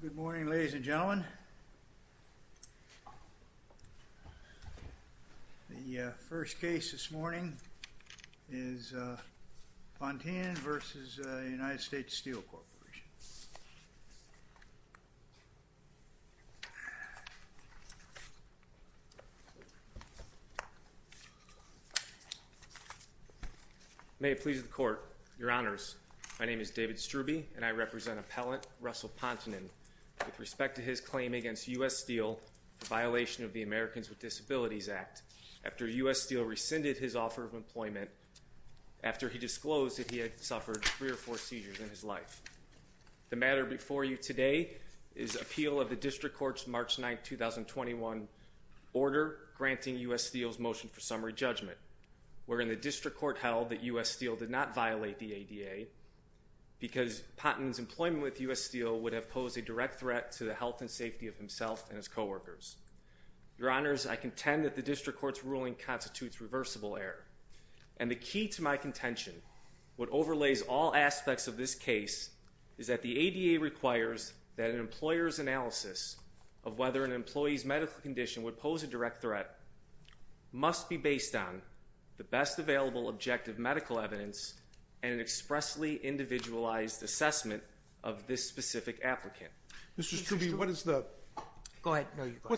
Good morning ladies and gentlemen. The first case this morning is Pontinen v. United States Steel Corporation. May it please the court, your honors, my name is David Strube and I represent appellant Russell Pontinen with respect to his claim against U.S. Steel for violation of the Americans with Disabilities Act after U.S. Steel rescinded his offer of employment after he disclosed that he had suffered three or four seizures in his life. The matter before you today is appeal of the district court's March 9, 2021 order granting U.S. Steel's motion for summary judgment wherein the district court held that U.S. Steel did not violate the ADA because Pontinen's employment with U.S. Steel would have posed a direct threat to the health and safety of himself and his coworkers. Your honors, I contend that the district court's ruling constitutes reversible error and the key to my contention, what overlays all aspects of this case, is that the ADA requires that an employer's analysis of whether an employee's medical condition would pose a direct threat must be based on the best available objective medical evidence and an expressly individualized assessment of this specific applicant. Mr. Strube, what is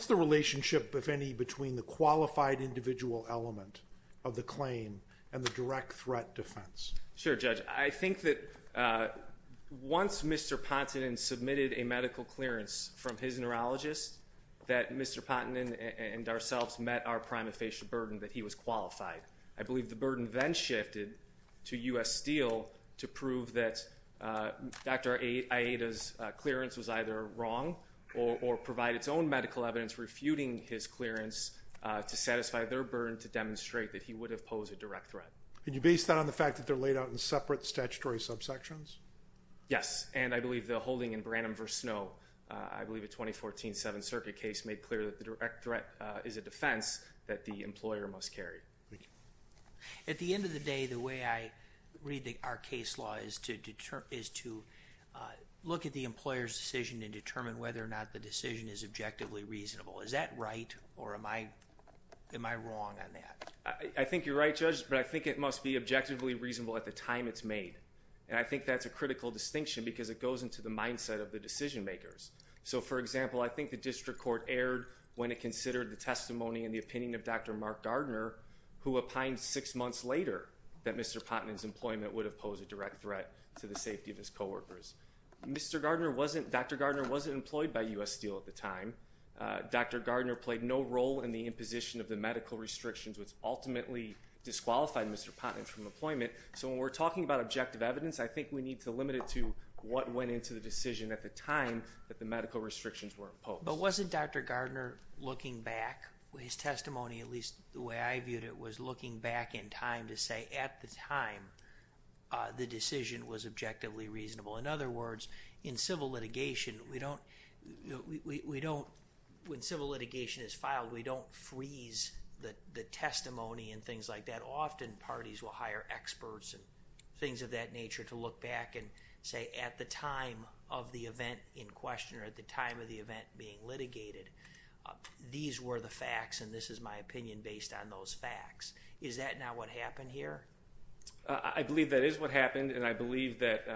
the relationship, if any, between the qualified individual element of the claim and the direct threat defense? Sure, Judge. I think that once Mr. Pontinen submitted a medical clearance from his neurologist that Mr. Pontinen and ourselves met our prima facie burden that he was qualified. I believe the burden then shifted to U.S. Steel to prove that Dr. IATA's clearance was either wrong or provide its own medical evidence refuting his clearance to satisfy their burden to demonstrate that he would have posed a direct threat. Can you base that on the fact that they're laid out in separate statutory subsections? Yes, and I believe the holding in Branham v. Snow, I believe a 2014 Seventh Circuit case made clear that the direct threat is a defense that the employer must carry. At the end of the day, the way I read our case law is to look at the employer's decision and determine whether or not the decision is objectively reasonable. Is that right or am I wrong on that? I think you're right, Judge, but I think it must be objectively reasonable at the time it's made, and I think that's a critical distinction because it goes into the mindset of the decision makers. So, for example, I think the district court erred when it considered the testimony and the opinion of Dr. Mark Gardner, who opined six months later that Mr. Pontinen's employment would have posed a direct threat to the safety of his coworkers. Dr. Gardner wasn't employed by U.S. Steel at the time. Dr. Gardner played no role in the imposition of the medical restrictions, which ultimately disqualified Mr. Pontinen from employment. So, when we're talking about objective evidence, I think we need to limit it to what went into the decision at the time that the medical restrictions were imposed. But wasn't Dr. Gardner looking back with his testimony, at least the way I viewed it, was looking back in time to say at the time the decision was objectively reasonable? In other words, in civil litigation, when civil litigation is filed, we don't freeze the testimony and things like that. Often, parties will hire experts and things of that nature to look back and say at the time of the event in question or at the time of the event being litigated, these were the facts and this is my opinion based on those facts. Is that not what happened here? I believe that is what happened and I believe that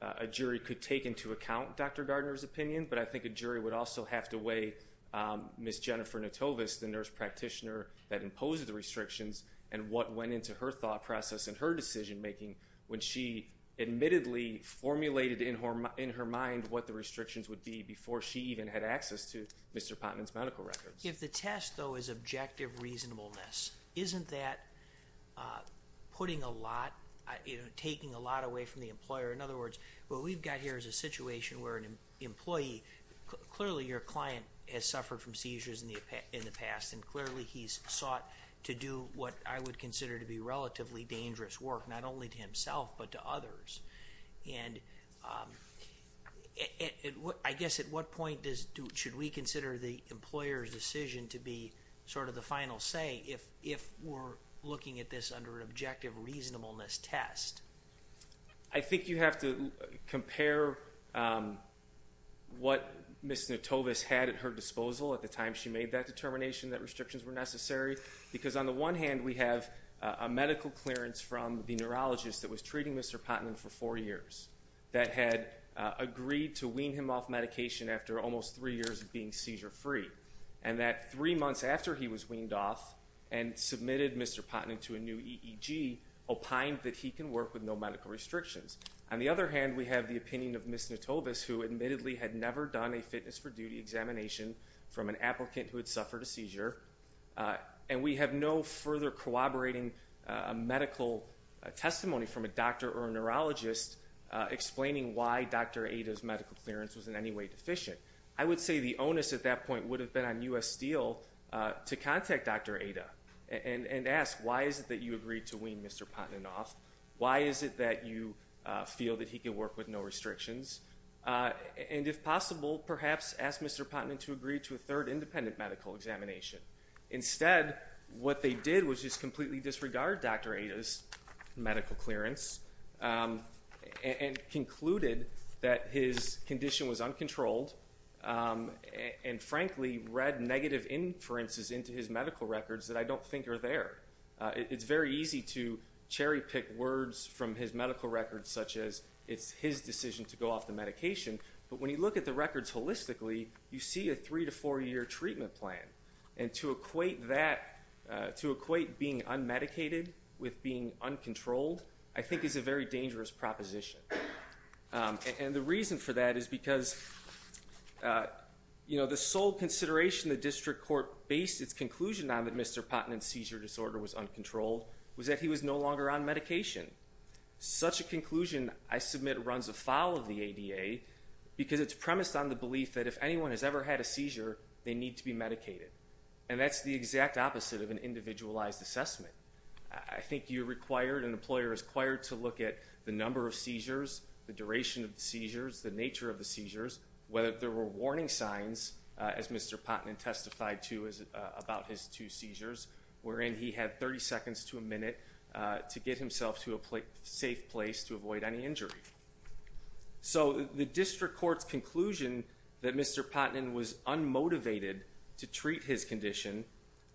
a jury could take into account Dr. Gardner's opinion, but I think a jury would also have to weigh Ms. Jennifer Notovus, the nurse practitioner that imposed the restrictions, and what went into her thought process and her decision making when she admittedly formulated in her mind what the restrictions would be before she even had access to Mr. Pontinen's medical records. If the test, though, is objective reasonableness, isn't that putting a lot, taking a lot away from the employer? In other words, what we've got here is a situation where an employee, clearly your client has suffered from seizures in the past and clearly he's sought to do what I would consider to be relatively dangerous work, not only to himself but to others. And I guess at what point should we consider the employer's decision to be sort of the final say if we're looking at this under an objective reasonableness test? I think you have to compare what Ms. Notovus had at her disposal at the time she made that determination that restrictions were necessary. Because on the one hand, we have a medical clearance from the neurologist that was treating Mr. Pontinen for four years that had agreed to wean him off medication after almost three years of being seizure free. And that three months after he was weaned off and submitted Mr. Pontinen to a new EEG, opined that he can work with no medical restrictions. On the other hand, we have the opinion of Ms. Notovus who admittedly had never done a fitness for duty examination from an applicant who had suffered a seizure. And we have no further corroborating medical testimony from a doctor or a neurologist explaining why Dr. Ada's medical clearance was in any way deficient. I would say the onus at that point would have been on U.S. Steel to contact Dr. Ada and ask why is it that you agreed to wean Mr. Pontinen off? Why is it that you feel that he can work with no restrictions? And if possible, perhaps ask Mr. Pontinen to agree to a third independent medical examination. Instead, what they did was just completely disregard Dr. Ada's medical clearance and concluded that his condition was uncontrolled. And frankly, read negative inferences into his medical records that I don't think are there. It's very easy to cherry pick words from his medical records such as it's his decision to go off the medication. But when you look at the records holistically, you see a three to four year treatment plan. And to equate that, to equate being unmedicated with being uncontrolled, I think is a very dangerous proposition. And the reason for that is because the sole consideration the district court based its conclusion on that Mr. Pontinen's seizure disorder was uncontrolled was that he was no longer on medication. Such a conclusion, I submit, runs afoul of the ADA because it's premised on the belief that if anyone has ever had a seizure, they need to be medicated. And that's the exact opposite of an individualized assessment. I think you're required and an employer is required to look at the number of seizures, the duration of the seizures, the nature of the seizures, whether there were warning signs, as Mr. Pontinen testified to about his two seizures, wherein he had 30 seconds to a minute to get himself to a safe place to avoid any injury. So the district court's conclusion that Mr. Pontinen was unmotivated to treat his condition,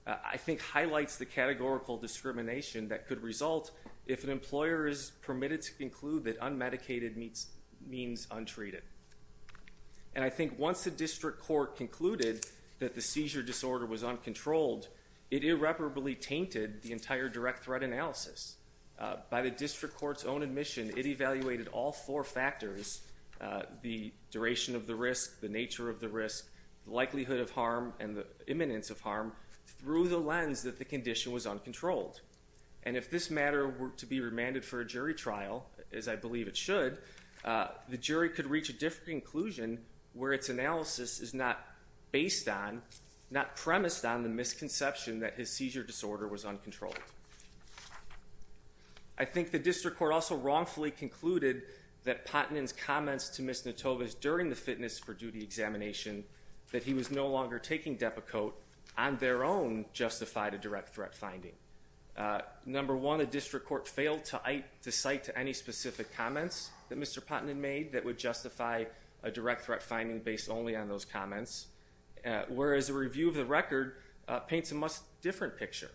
I think highlights the categorical discrimination that could result if an employer is permitted to conclude that unmedicated means untreated. And I think once the district court concluded that the seizure disorder was uncontrolled, it irreparably tainted the entire direct threat analysis. By the district court's own admission, it evaluated all four factors, the duration of the risk, the nature of the risk, the likelihood of harm, and the imminence of harm through the lens that the condition was uncontrolled. And if this matter were to be remanded for a jury trial, as I believe it should, the jury could reach a different conclusion where its analysis is not based on, not premised on, the misconception that his seizure disorder was uncontrolled. I think the district court also wrongfully concluded that Pontinen's comments to Ms. Notovas during the fitness for duty examination, that he was no longer taking Depakote, on their own justified a direct threat finding. Number one, the district court failed to cite any specific comments that Mr. Pontinen made that would justify a direct threat finding based only on those comments, whereas a review of the record paints a much different picture.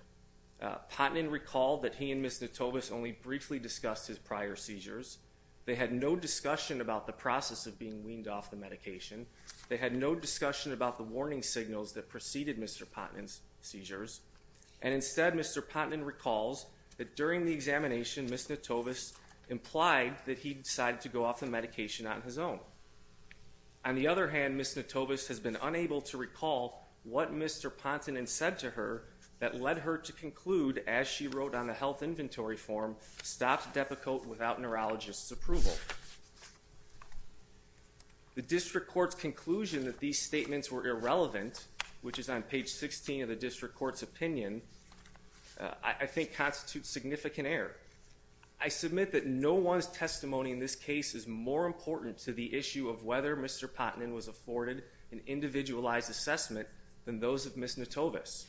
Pontinen recalled that he and Ms. Notovas only briefly discussed his prior seizures. They had no discussion about the process of being weaned off the medication. They had no discussion about the warning signals that preceded Mr. Pontinen's seizures. And instead, Mr. Pontinen recalls that during the examination, Ms. Notovas implied that he decided to go off the medication on his own. On the other hand, Ms. Notovas has been unable to recall what Mr. Pontinen said to her that led her to conclude, as she wrote on the health inventory form, stopped Depakote without neurologist's approval. The district court's conclusion that these statements were irrelevant, which is on page 16 of the district court's opinion, I think constitutes significant error. I submit that no one's testimony in this case is more important to the issue of whether Mr. Pontinen was afforded an individualized assessment than those of Ms. Notovas.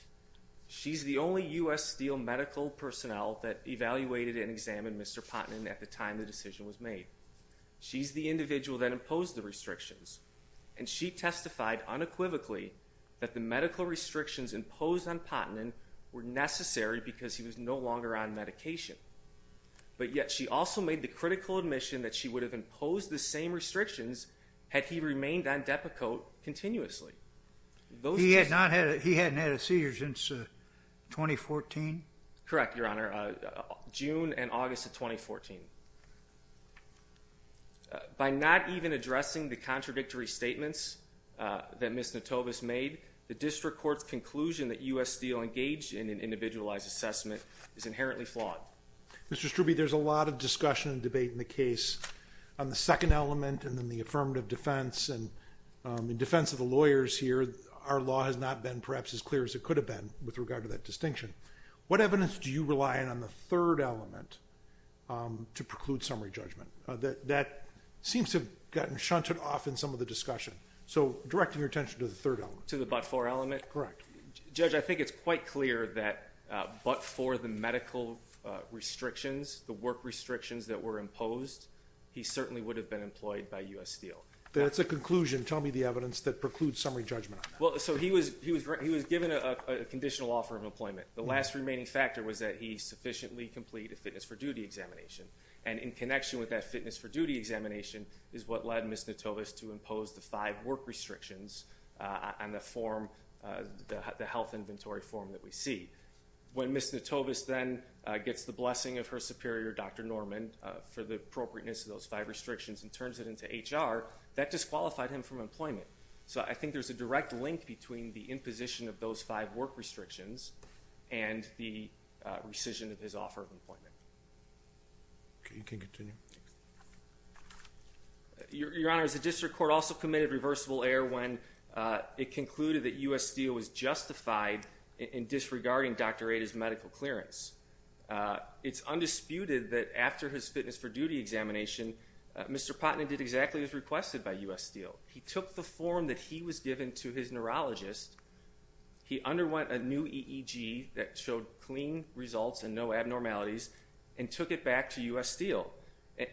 She's the only U.S. Steel medical personnel that evaluated and examined Mr. Pontinen at the time the decision was made. She's the individual that imposed the restrictions, and she testified unequivocally that the medical restrictions imposed on Pontinen were necessary because he was no longer on medication. But yet she also made the critical admission that she would have imposed the same restrictions had he remained on Depakote continuously. He hadn't had a seizure since 2014? Correct, Your Honor, June and August of 2014. By not even addressing the contradictory statements that Ms. Notovas made, the district court's conclusion that U.S. Steel engaged in an individualized assessment is inherently flawed. Mr. Strube, there's a lot of discussion and debate in the case on the second element and then the affirmative defense, and in defense of the lawyers here, our law has not been perhaps as clear as it could have been with regard to that distinction. What evidence do you rely on on the third element to preclude summary judgment? That seems to have gotten shunted off in some of the discussion. So directing your attention to the third element. To the but-for element? Correct. Judge, I think it's quite clear that but for the medical restrictions, the work restrictions that were imposed, he certainly would have been employed by U.S. Steel. That's a conclusion. Tell me the evidence that precludes summary judgment on that. Well, so he was given a conditional offer of employment. The last remaining factor was that he sufficiently completed a fitness for duty examination, and in connection with that fitness for duty examination is what led Ms. Notovas to impose the five work restrictions on the form, the health inventory form that we see. When Ms. Notovas then gets the blessing of her superior, Dr. Norman, for the appropriateness of those five restrictions and turns it into HR, that disqualified him from employment. So I think there's a direct link between the imposition of those five work restrictions and the rescission of his offer of employment. Okay. You can continue. Your Honor, the district court also committed reversible error when it concluded that U.S. Steel was justified in disregarding Dr. Ada's medical clearance. It's undisputed that after his fitness for duty examination, Mr. Putnam did exactly as requested by U.S. Steel. He took the form that he was given to his neurologist. He underwent a new EEG that showed clean results and no abnormalities and took it back to U.S. Steel.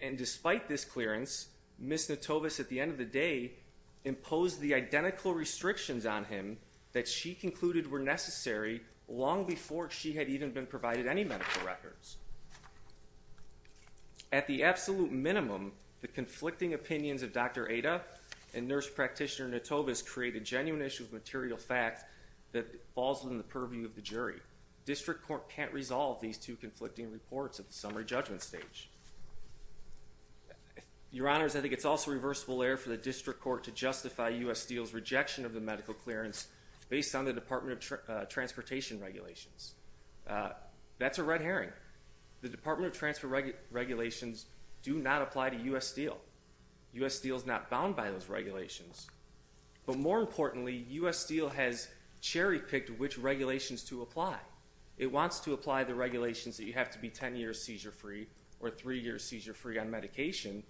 And despite this clearance, Ms. Notovas, at the end of the day, imposed the identical restrictions on him that she concluded were necessary long before she had even been provided any medical records. At the absolute minimum, the conflicting opinions of Dr. Ada and nurse practitioner Notovas create a genuine issue of material fact that falls within the purview of the jury. District court can't resolve these two conflicting reports at the summary judgment stage. Your Honors, I think it's also reversible error for the district court to justify U.S. Steel's rejection of the medical clearance based on the Department of Transportation regulations. That's a red herring. The Department of Transportation regulations do not apply to U.S. Steel. U.S. Steel is not bound by those regulations. But more importantly, U.S. Steel has cherry-picked which regulations to apply. It wants to apply the regulations that you have to be 10 years seizure-free or 3 years seizure-free on medication,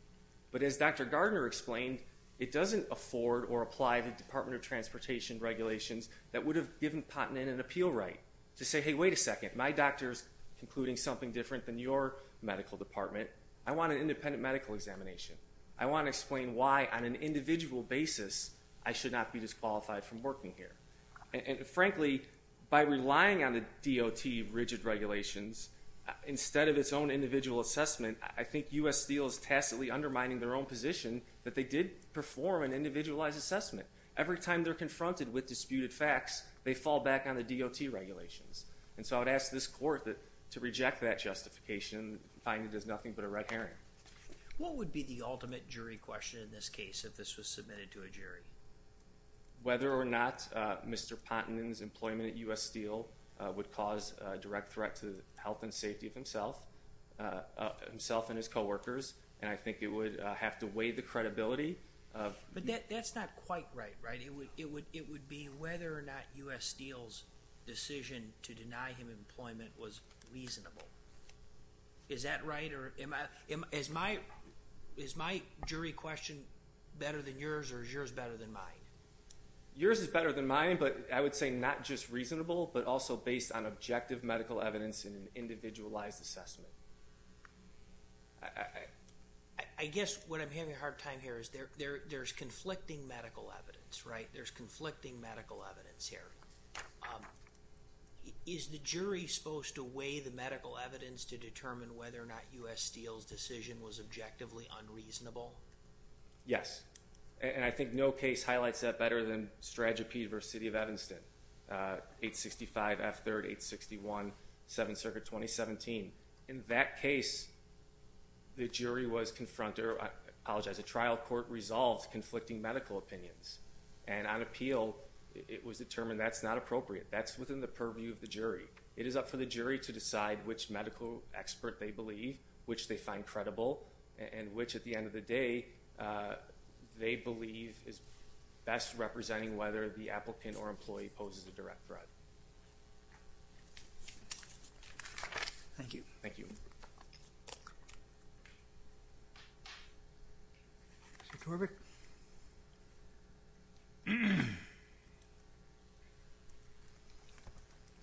but as Dr. Gardner explained, it doesn't afford or apply the Department of Transportation regulations that would have given Putnam an appeal right to say, hey, wait a second, my doctor's concluding something different than your medical department. I want an independent medical examination. I want to explain why, on an individual basis, I should not be disqualified from working here. Frankly, by relying on the DOT rigid regulations instead of its own individual assessment, I think U.S. Steel is tacitly undermining their own position that they did perform an individualized assessment. Every time they're confronted with disputed facts, they fall back on the DOT regulations. So I would ask this court to reject that justification and find it as nothing but a red herring. What would be the ultimate jury question in this case if this was submitted to a jury? Whether or not Mr. Putnam's employment at U.S. Steel would cause a direct threat to the health and safety of himself and his coworkers, and I think it would have to weigh the credibility. But that's not quite right, right? It would be whether or not U.S. Steel's decision to deny him employment was reasonable. Is that right? Is my jury question better than yours, or is yours better than mine? Yours is better than mine, but I would say not just reasonable, but also based on objective medical evidence and an individualized assessment. I guess what I'm having a hard time here is there's conflicting medical evidence, right? There's conflicting medical evidence here. Is the jury supposed to weigh the medical evidence to determine whether or not U.S. Steel's decision was objectively unreasonable? Yes, and I think no case highlights that better than Stratagepede v. City of Evanston, 865 F. 3rd, 861, 7th Circuit, 2017. In that case, the jury was confronted, or I apologize, the trial court resolved conflicting medical opinions, and on appeal it was determined that's not appropriate. That's within the purview of the jury. It is up for the jury to decide which medical expert they believe, which they find credible, and which, at the end of the day, they believe is best representing whether the applicant or employee poses a direct threat. Thank you. Thank you. Mr. Torbek?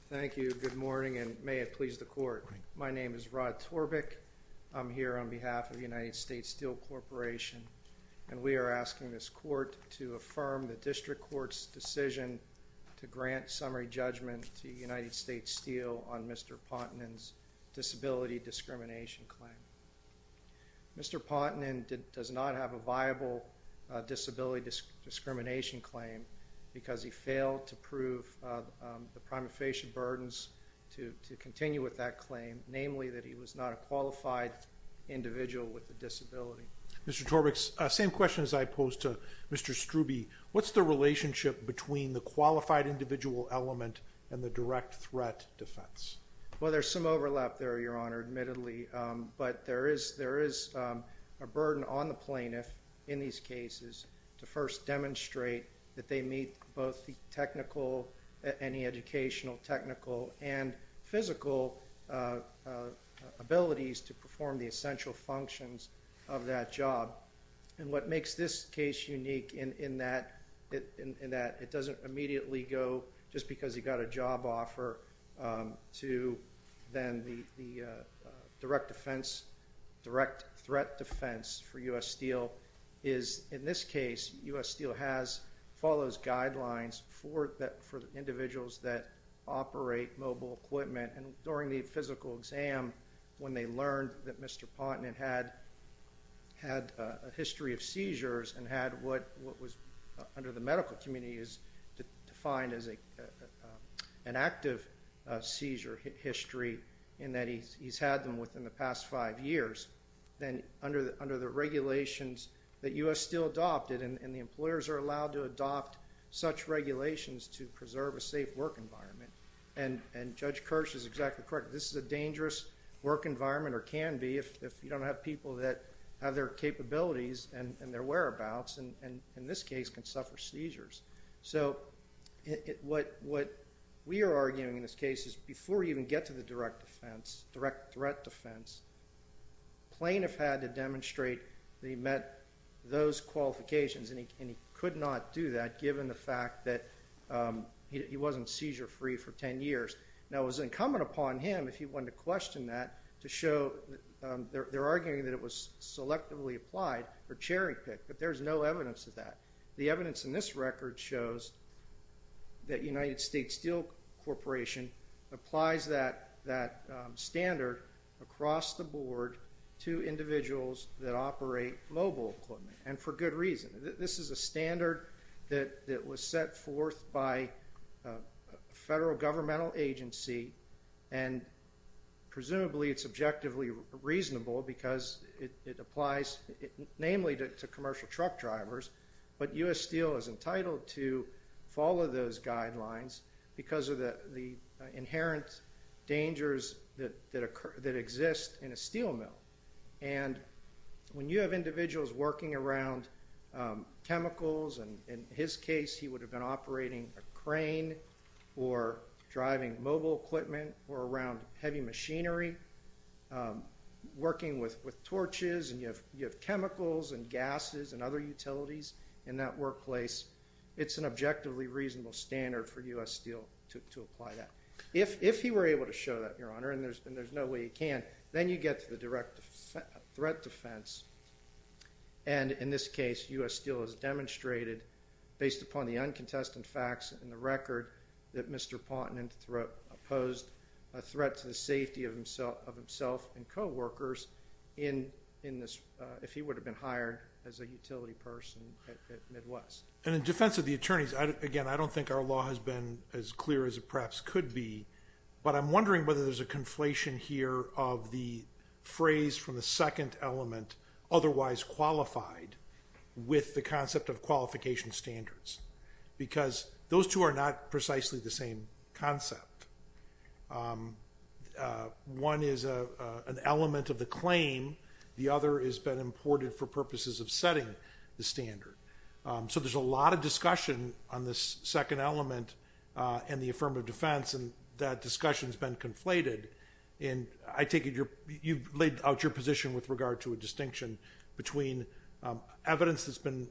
Thank you. Good morning, and may it please the court. My name is Rod Torbek. I'm here on behalf of the United States Steel Corporation, and we are asking this court to affirm the district court's decision to grant summary judgment to United States Steel on Mr. Pontonin's disability discrimination claim. Mr. Pontonin does not have a viable disability discrimination claim because he failed to prove the prima facie burdens to continue with that claim, namely that he was not a qualified individual with a disability. Mr. Torbek, same question as I posed to Mr. Strube. What's the relationship between the qualified individual element and the direct threat defense? Well, there's some overlap there, Your Honor, admittedly, but there is a burden on the plaintiff in these cases to first demonstrate that they meet both the technical, any educational, technical, and physical abilities to perform the essential functions of that job. And what makes this case unique in that it doesn't immediately go just because he got a job offer to then the direct defense, direct threat defense for U.S. Steel is, in this case, U.S. Steel follows guidelines for individuals that operate mobile equipment. And during the physical exam, when they learned that Mr. Pontonin had a history of seizures and had what was under the medical community is defined as an active seizure history in that he's had them within the past five years, then under the regulations that U.S. Steel adopted, and the employers are allowed to adopt such regulations to preserve a safe work environment. And Judge Kirsch is exactly correct. This is a dangerous work environment, or can be, if you don't have people that have their capabilities and their whereabouts, and in this case can suffer seizures. So what we are arguing in this case is before you even get to the direct defense, direct threat defense, plaintiff had to demonstrate that he met those qualifications, and he could not do that given the fact that he wasn't seizure-free for 10 years. Now, it was incumbent upon him, if you wanted to question that, to show they're arguing that it was selectively applied for cherry pick, but there's no evidence of that. The evidence in this record shows that United States Steel Corporation applies that standard across the board to individuals that operate mobile equipment, and for good reason. This is a standard that was set forth by a federal governmental agency, and presumably it's objectively reasonable because it applies namely to commercial truck drivers, but U.S. Steel is entitled to follow those guidelines because of the inherent dangers that exist in a steel mill. And when you have individuals working around chemicals, and in his case he would have been operating a crane or driving mobile equipment or around heavy machinery, working with torches, and you have chemicals and gases and other utilities in that workplace, it's an objectively reasonable standard for U.S. Steel to apply that. If he were able to show that, Your Honor, and there's no way he can, then you get to the direct threat defense, and in this case U.S. Steel has demonstrated, based upon the uncontested facts in the record, that Mr. Ponton opposed a threat to the safety of himself and coworkers if he would have been hired as a utility person at Midwest. And in defense of the attorneys, again, I don't think our law has been as clear as it perhaps could be, but I'm wondering whether there's a conflation here of the phrase from the second element, otherwise qualified, with the concept of qualification standards, because those two are not precisely the same concept. One is an element of the claim. The other has been imported for purposes of setting the standard. So there's a lot of discussion on this second element and the affirmative defense, and that discussion has been conflated, and I take it you've laid out your position with regard to a distinction between evidence that's been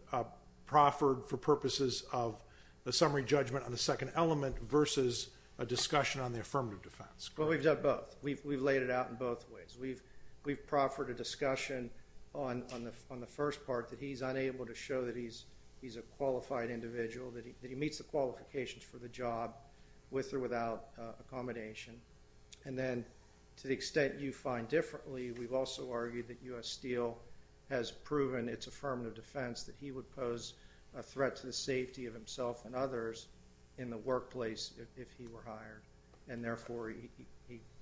proffered for purposes of the summary judgment on the second element versus a discussion on the affirmative defense. Well, we've done both. We've laid it out in both ways. We've proffered a discussion on the first part that he's unable to show that he's a qualified individual, that he meets the qualifications for the job with or without accommodation. And then to the extent you find differently, we've also argued that U.S. Steel has proven its affirmative defense that he would pose a threat to the safety of himself and others in the workplace if he were hired, and therefore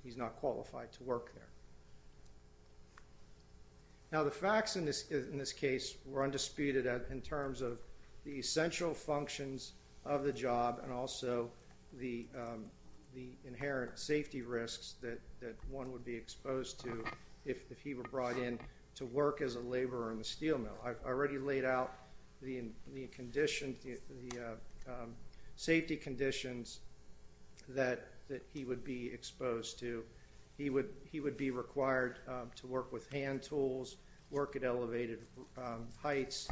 he's not qualified to work there. Now, the facts in this case were undisputed in terms of the essential functions of the job and also the inherent safety risks that one would be exposed to if he were brought in to work as a laborer in the steel mill. I've already laid out the safety conditions that he would be exposed to. He would be required to work with hand tools, work at elevated heights,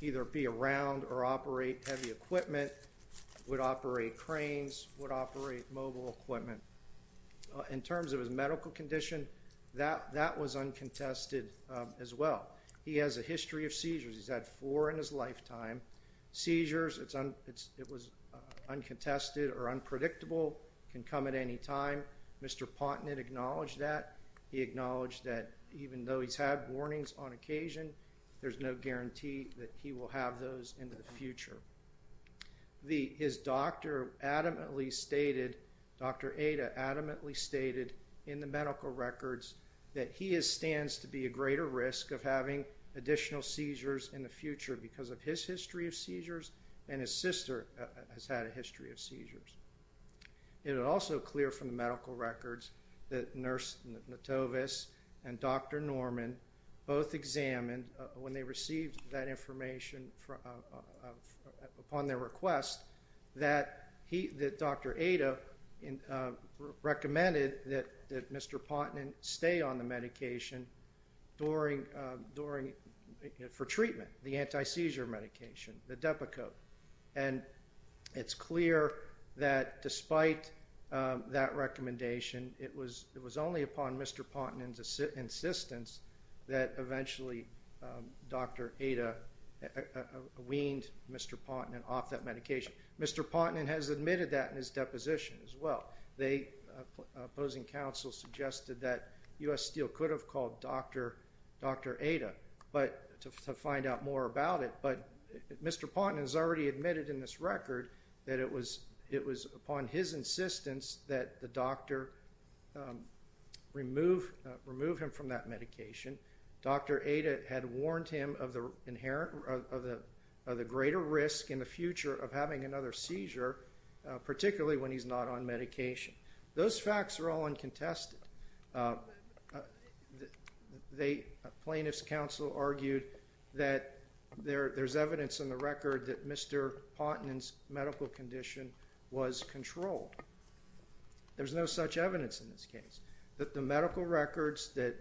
either be around or operate heavy equipment, would operate cranes, would operate mobile equipment. In terms of his medical condition, that was uncontested as well. He has a history of seizures. He's had four in his lifetime. Seizures, it was uncontested or unpredictable, can come at any time. Mr. Pontnet acknowledged that. He acknowledged that even though he's had warnings on occasion, there's no guarantee that he will have those in the future. His doctor adamantly stated, Dr. Ada adamantly stated in the medical records, that he stands to be at greater risk of having additional seizures in the future because of his history of seizures and his sister has had a history of seizures. It is also clear from the medical records that Nurse Notovis and Dr. Norman both examined, when they received that information upon their request, that Dr. Ada recommended that Mr. Pontnet stay on the medication for treatment, the anti-seizure medication, the Depakote. And it's clear that despite that recommendation, it was only upon Mr. Pontnet's insistence that eventually Dr. Ada weaned Mr. Pontnet off that medication. Mr. Pontnet has admitted that in his deposition as well. The opposing counsel suggested that U.S. Steel could have called Dr. Ada to find out more about it, but Mr. Pontnet has already admitted in this record that it was upon his insistence that the doctor remove him from that medication. Dr. Ada had warned him of the greater risk in the future of having another seizure, particularly when he's not on medication. Those facts are all uncontested. A plaintiff's counsel argued that there's evidence in the record that Mr. Pontnet's medical condition was controlled. There's no such evidence in this case. The medical records that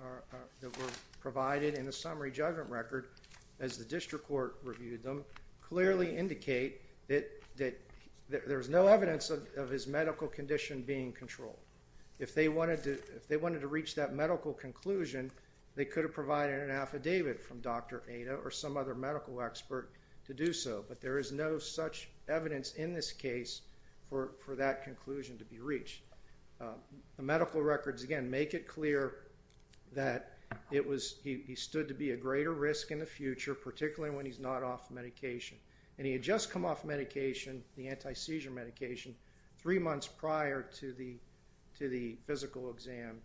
were provided in the summary judgment record, as the district court reviewed them, clearly indicate that there's no evidence of his medical condition being controlled. If they wanted to reach that medical conclusion, they could have provided an affidavit from Dr. Ada or some other medical expert to do so. But there is no such evidence in this case for that conclusion to be reached. The medical records, again, make it clear that he stood to be a greater risk in the future, particularly when he's not off medication. And he had just come off medication, the anti-seizure medication, three months prior to the physical exam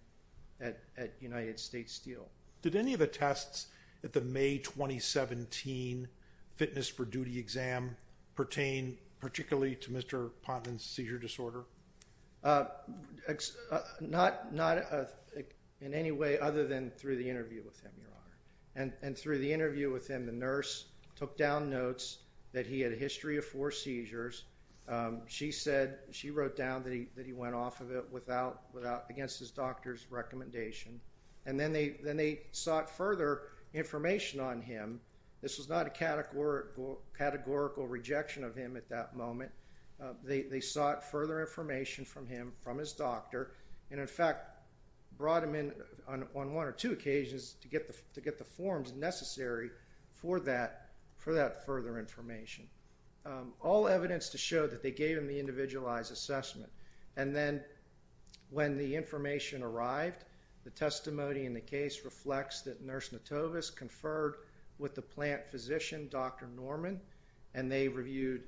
at United States Steel. Did any of the tests at the May 2017 Fitness for Duty exam pertain particularly to Mr. Pontnet's seizure disorder? Not in any way other than through the interview with him, Your Honor. And through the interview with him, the nurse took down notes that he had a history of four seizures. She wrote down that he went off of it against his doctor's recommendation. And then they sought further information on him. This was not a categorical rejection of him at that moment. They sought further information from him, from his doctor, and, in fact, brought him in on one or two occasions to get the forms necessary for that further information. All evidence to show that they gave him the individualized assessment. And then when the information arrived, the testimony in the case reflects that Nurse Notovis conferred with the plant physician, Dr. Norman, and they reviewed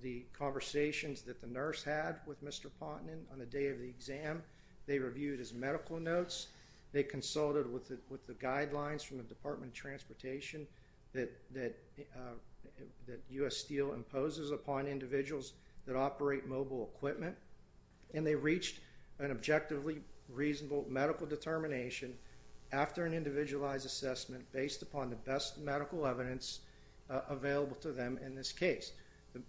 the conversations that the nurse had with Mr. Pontnet on the day of the exam. They reviewed his medical notes. They consulted with the guidelines from the Department of Transportation that U.S. Steel imposes upon individuals that operate mobile equipment. And they reached an objectively reasonable medical determination after an individualized assessment based upon the best medical evidence available to them in this case.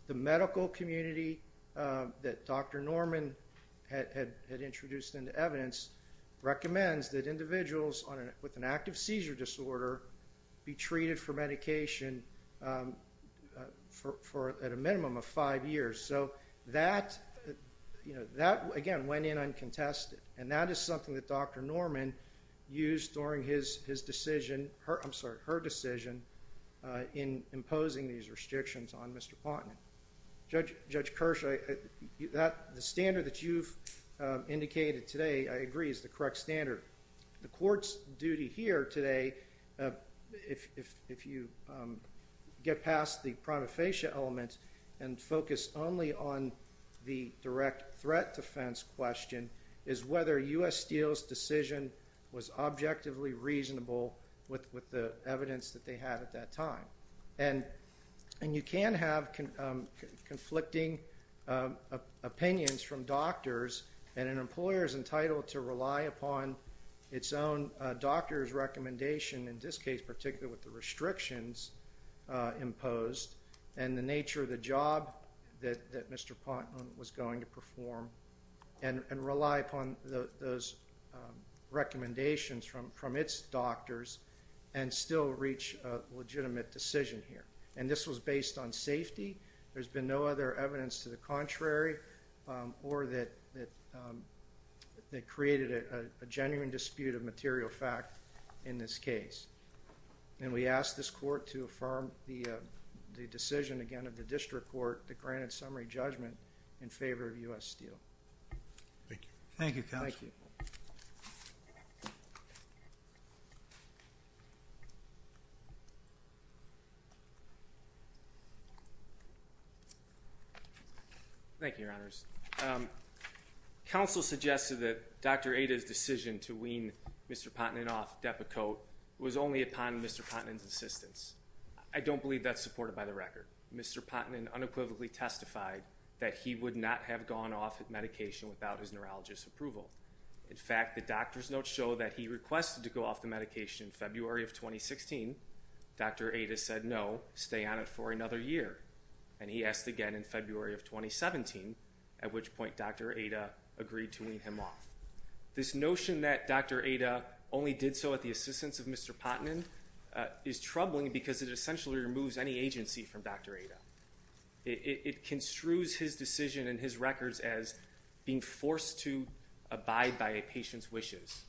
The medical community that Dr. Norman had introduced into evidence recommends that individuals with an active seizure disorder be treated for medication for at a minimum of five years. So that, again, went in uncontested. And that is something that Dr. Norman used during his decision, I'm sorry, her decision in imposing these restrictions on Mr. Pontnet. Judge Kirsch, the standard that you've indicated today, I agree, is the correct standard. The court's duty here today, if you get past the prima facie element and focus only on the direct threat defense question, is whether U.S. Steel's decision was objectively reasonable with the evidence that they had at that time. And you can have conflicting opinions from doctors, and an employer is entitled to rely upon its own doctor's recommendation, in this case particularly with the restrictions imposed, and the nature of the job that Mr. Pontnet was going to perform, and rely upon those recommendations from its doctors and still reach a legitimate decision here. And this was based on safety. There's been no other evidence to the contrary or that created a genuine dispute of material fact in this case. And we ask this court to affirm the decision, again, of the district court that granted summary judgment in favor of U.S. Steel. Thank you. Thank you, Counsel. Thank you. Thank you, Your Honors. Counsel suggested that Dr. Ada's decision to wean Mr. Pontnet off Depakote was only upon Mr. Pontnet's assistance. I don't believe that's supported by the record. Mr. Pontnet unequivocally testified that he would not have gone off medication without his neurologist's approval. In fact, the doctor's notes show that he requested to go off the medication in February of 2016. Dr. Ada said no, stay on it for another year. And he asked again in February of 2017, at which point Dr. Ada agreed to wean him off. This notion that Dr. Ada only did so at the assistance of Mr. Pontnet is troubling because it essentially removes any agency from Dr. Ada. It construes his decision and his records as being forced to abide by a patient's wishes.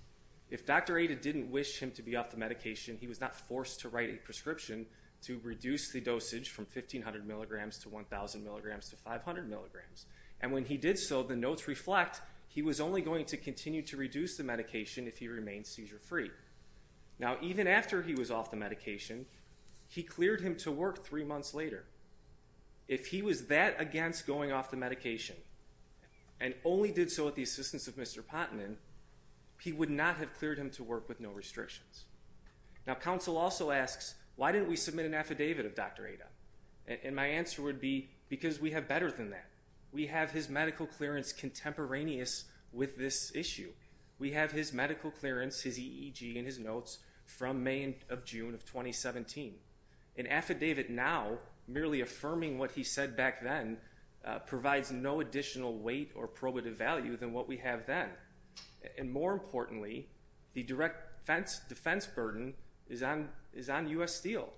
If Dr. Ada didn't wish him to be off the medication, he was not forced to write a prescription to reduce the dosage from 1,500 milligrams to 1,000 milligrams to 500 milligrams. And when he did so, the notes reflect he was only going to continue to reduce the medication if he remained seizure-free. Now, even after he was off the medication, he cleared him to work three months later. If he was that against going off the medication and only did so at the assistance of Mr. Pontnet, he would not have cleared him to work with no restrictions. Now, counsel also asks, why didn't we submit an affidavit of Dr. Ada? And my answer would be because we have better than that. We have his medical clearance contemporaneous with this issue. We have his medical clearance, his EEG and his notes from May of June of 2017. An affidavit now, merely affirming what he said back then, provides no additional weight or probative value than what we have then. And more importantly, the direct defense burden is on U.S. Steel.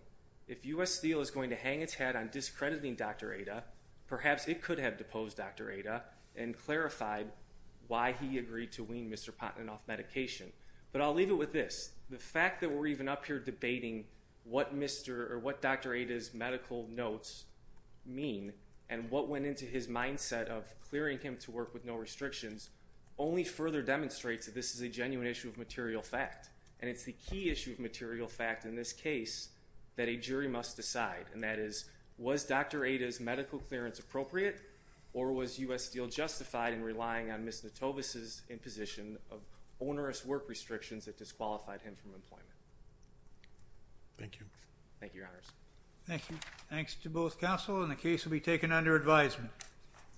If U.S. Steel is going to hang its hat on discrediting Dr. Ada, perhaps it could have deposed Dr. Ada and clarified why he agreed to wean Mr. Pontnet off medication. But I'll leave it with this. The fact that we're even up here debating what Dr. Ada's medical notes mean and what went into his mindset of clearing him to work with no restrictions, only further demonstrates that this is a genuine issue of material fact. And it's the key issue of material fact in this case that a jury must decide. And that is, was Dr. Ada's medical clearance appropriate or was U.S. Steel justified in relying on Ms. Notovis' imposition of onerous work restrictions that disqualified him from employment? Thank you. Thank you, Your Honors. Thank you. Thanks to both counsel and the case will be taken under advisement.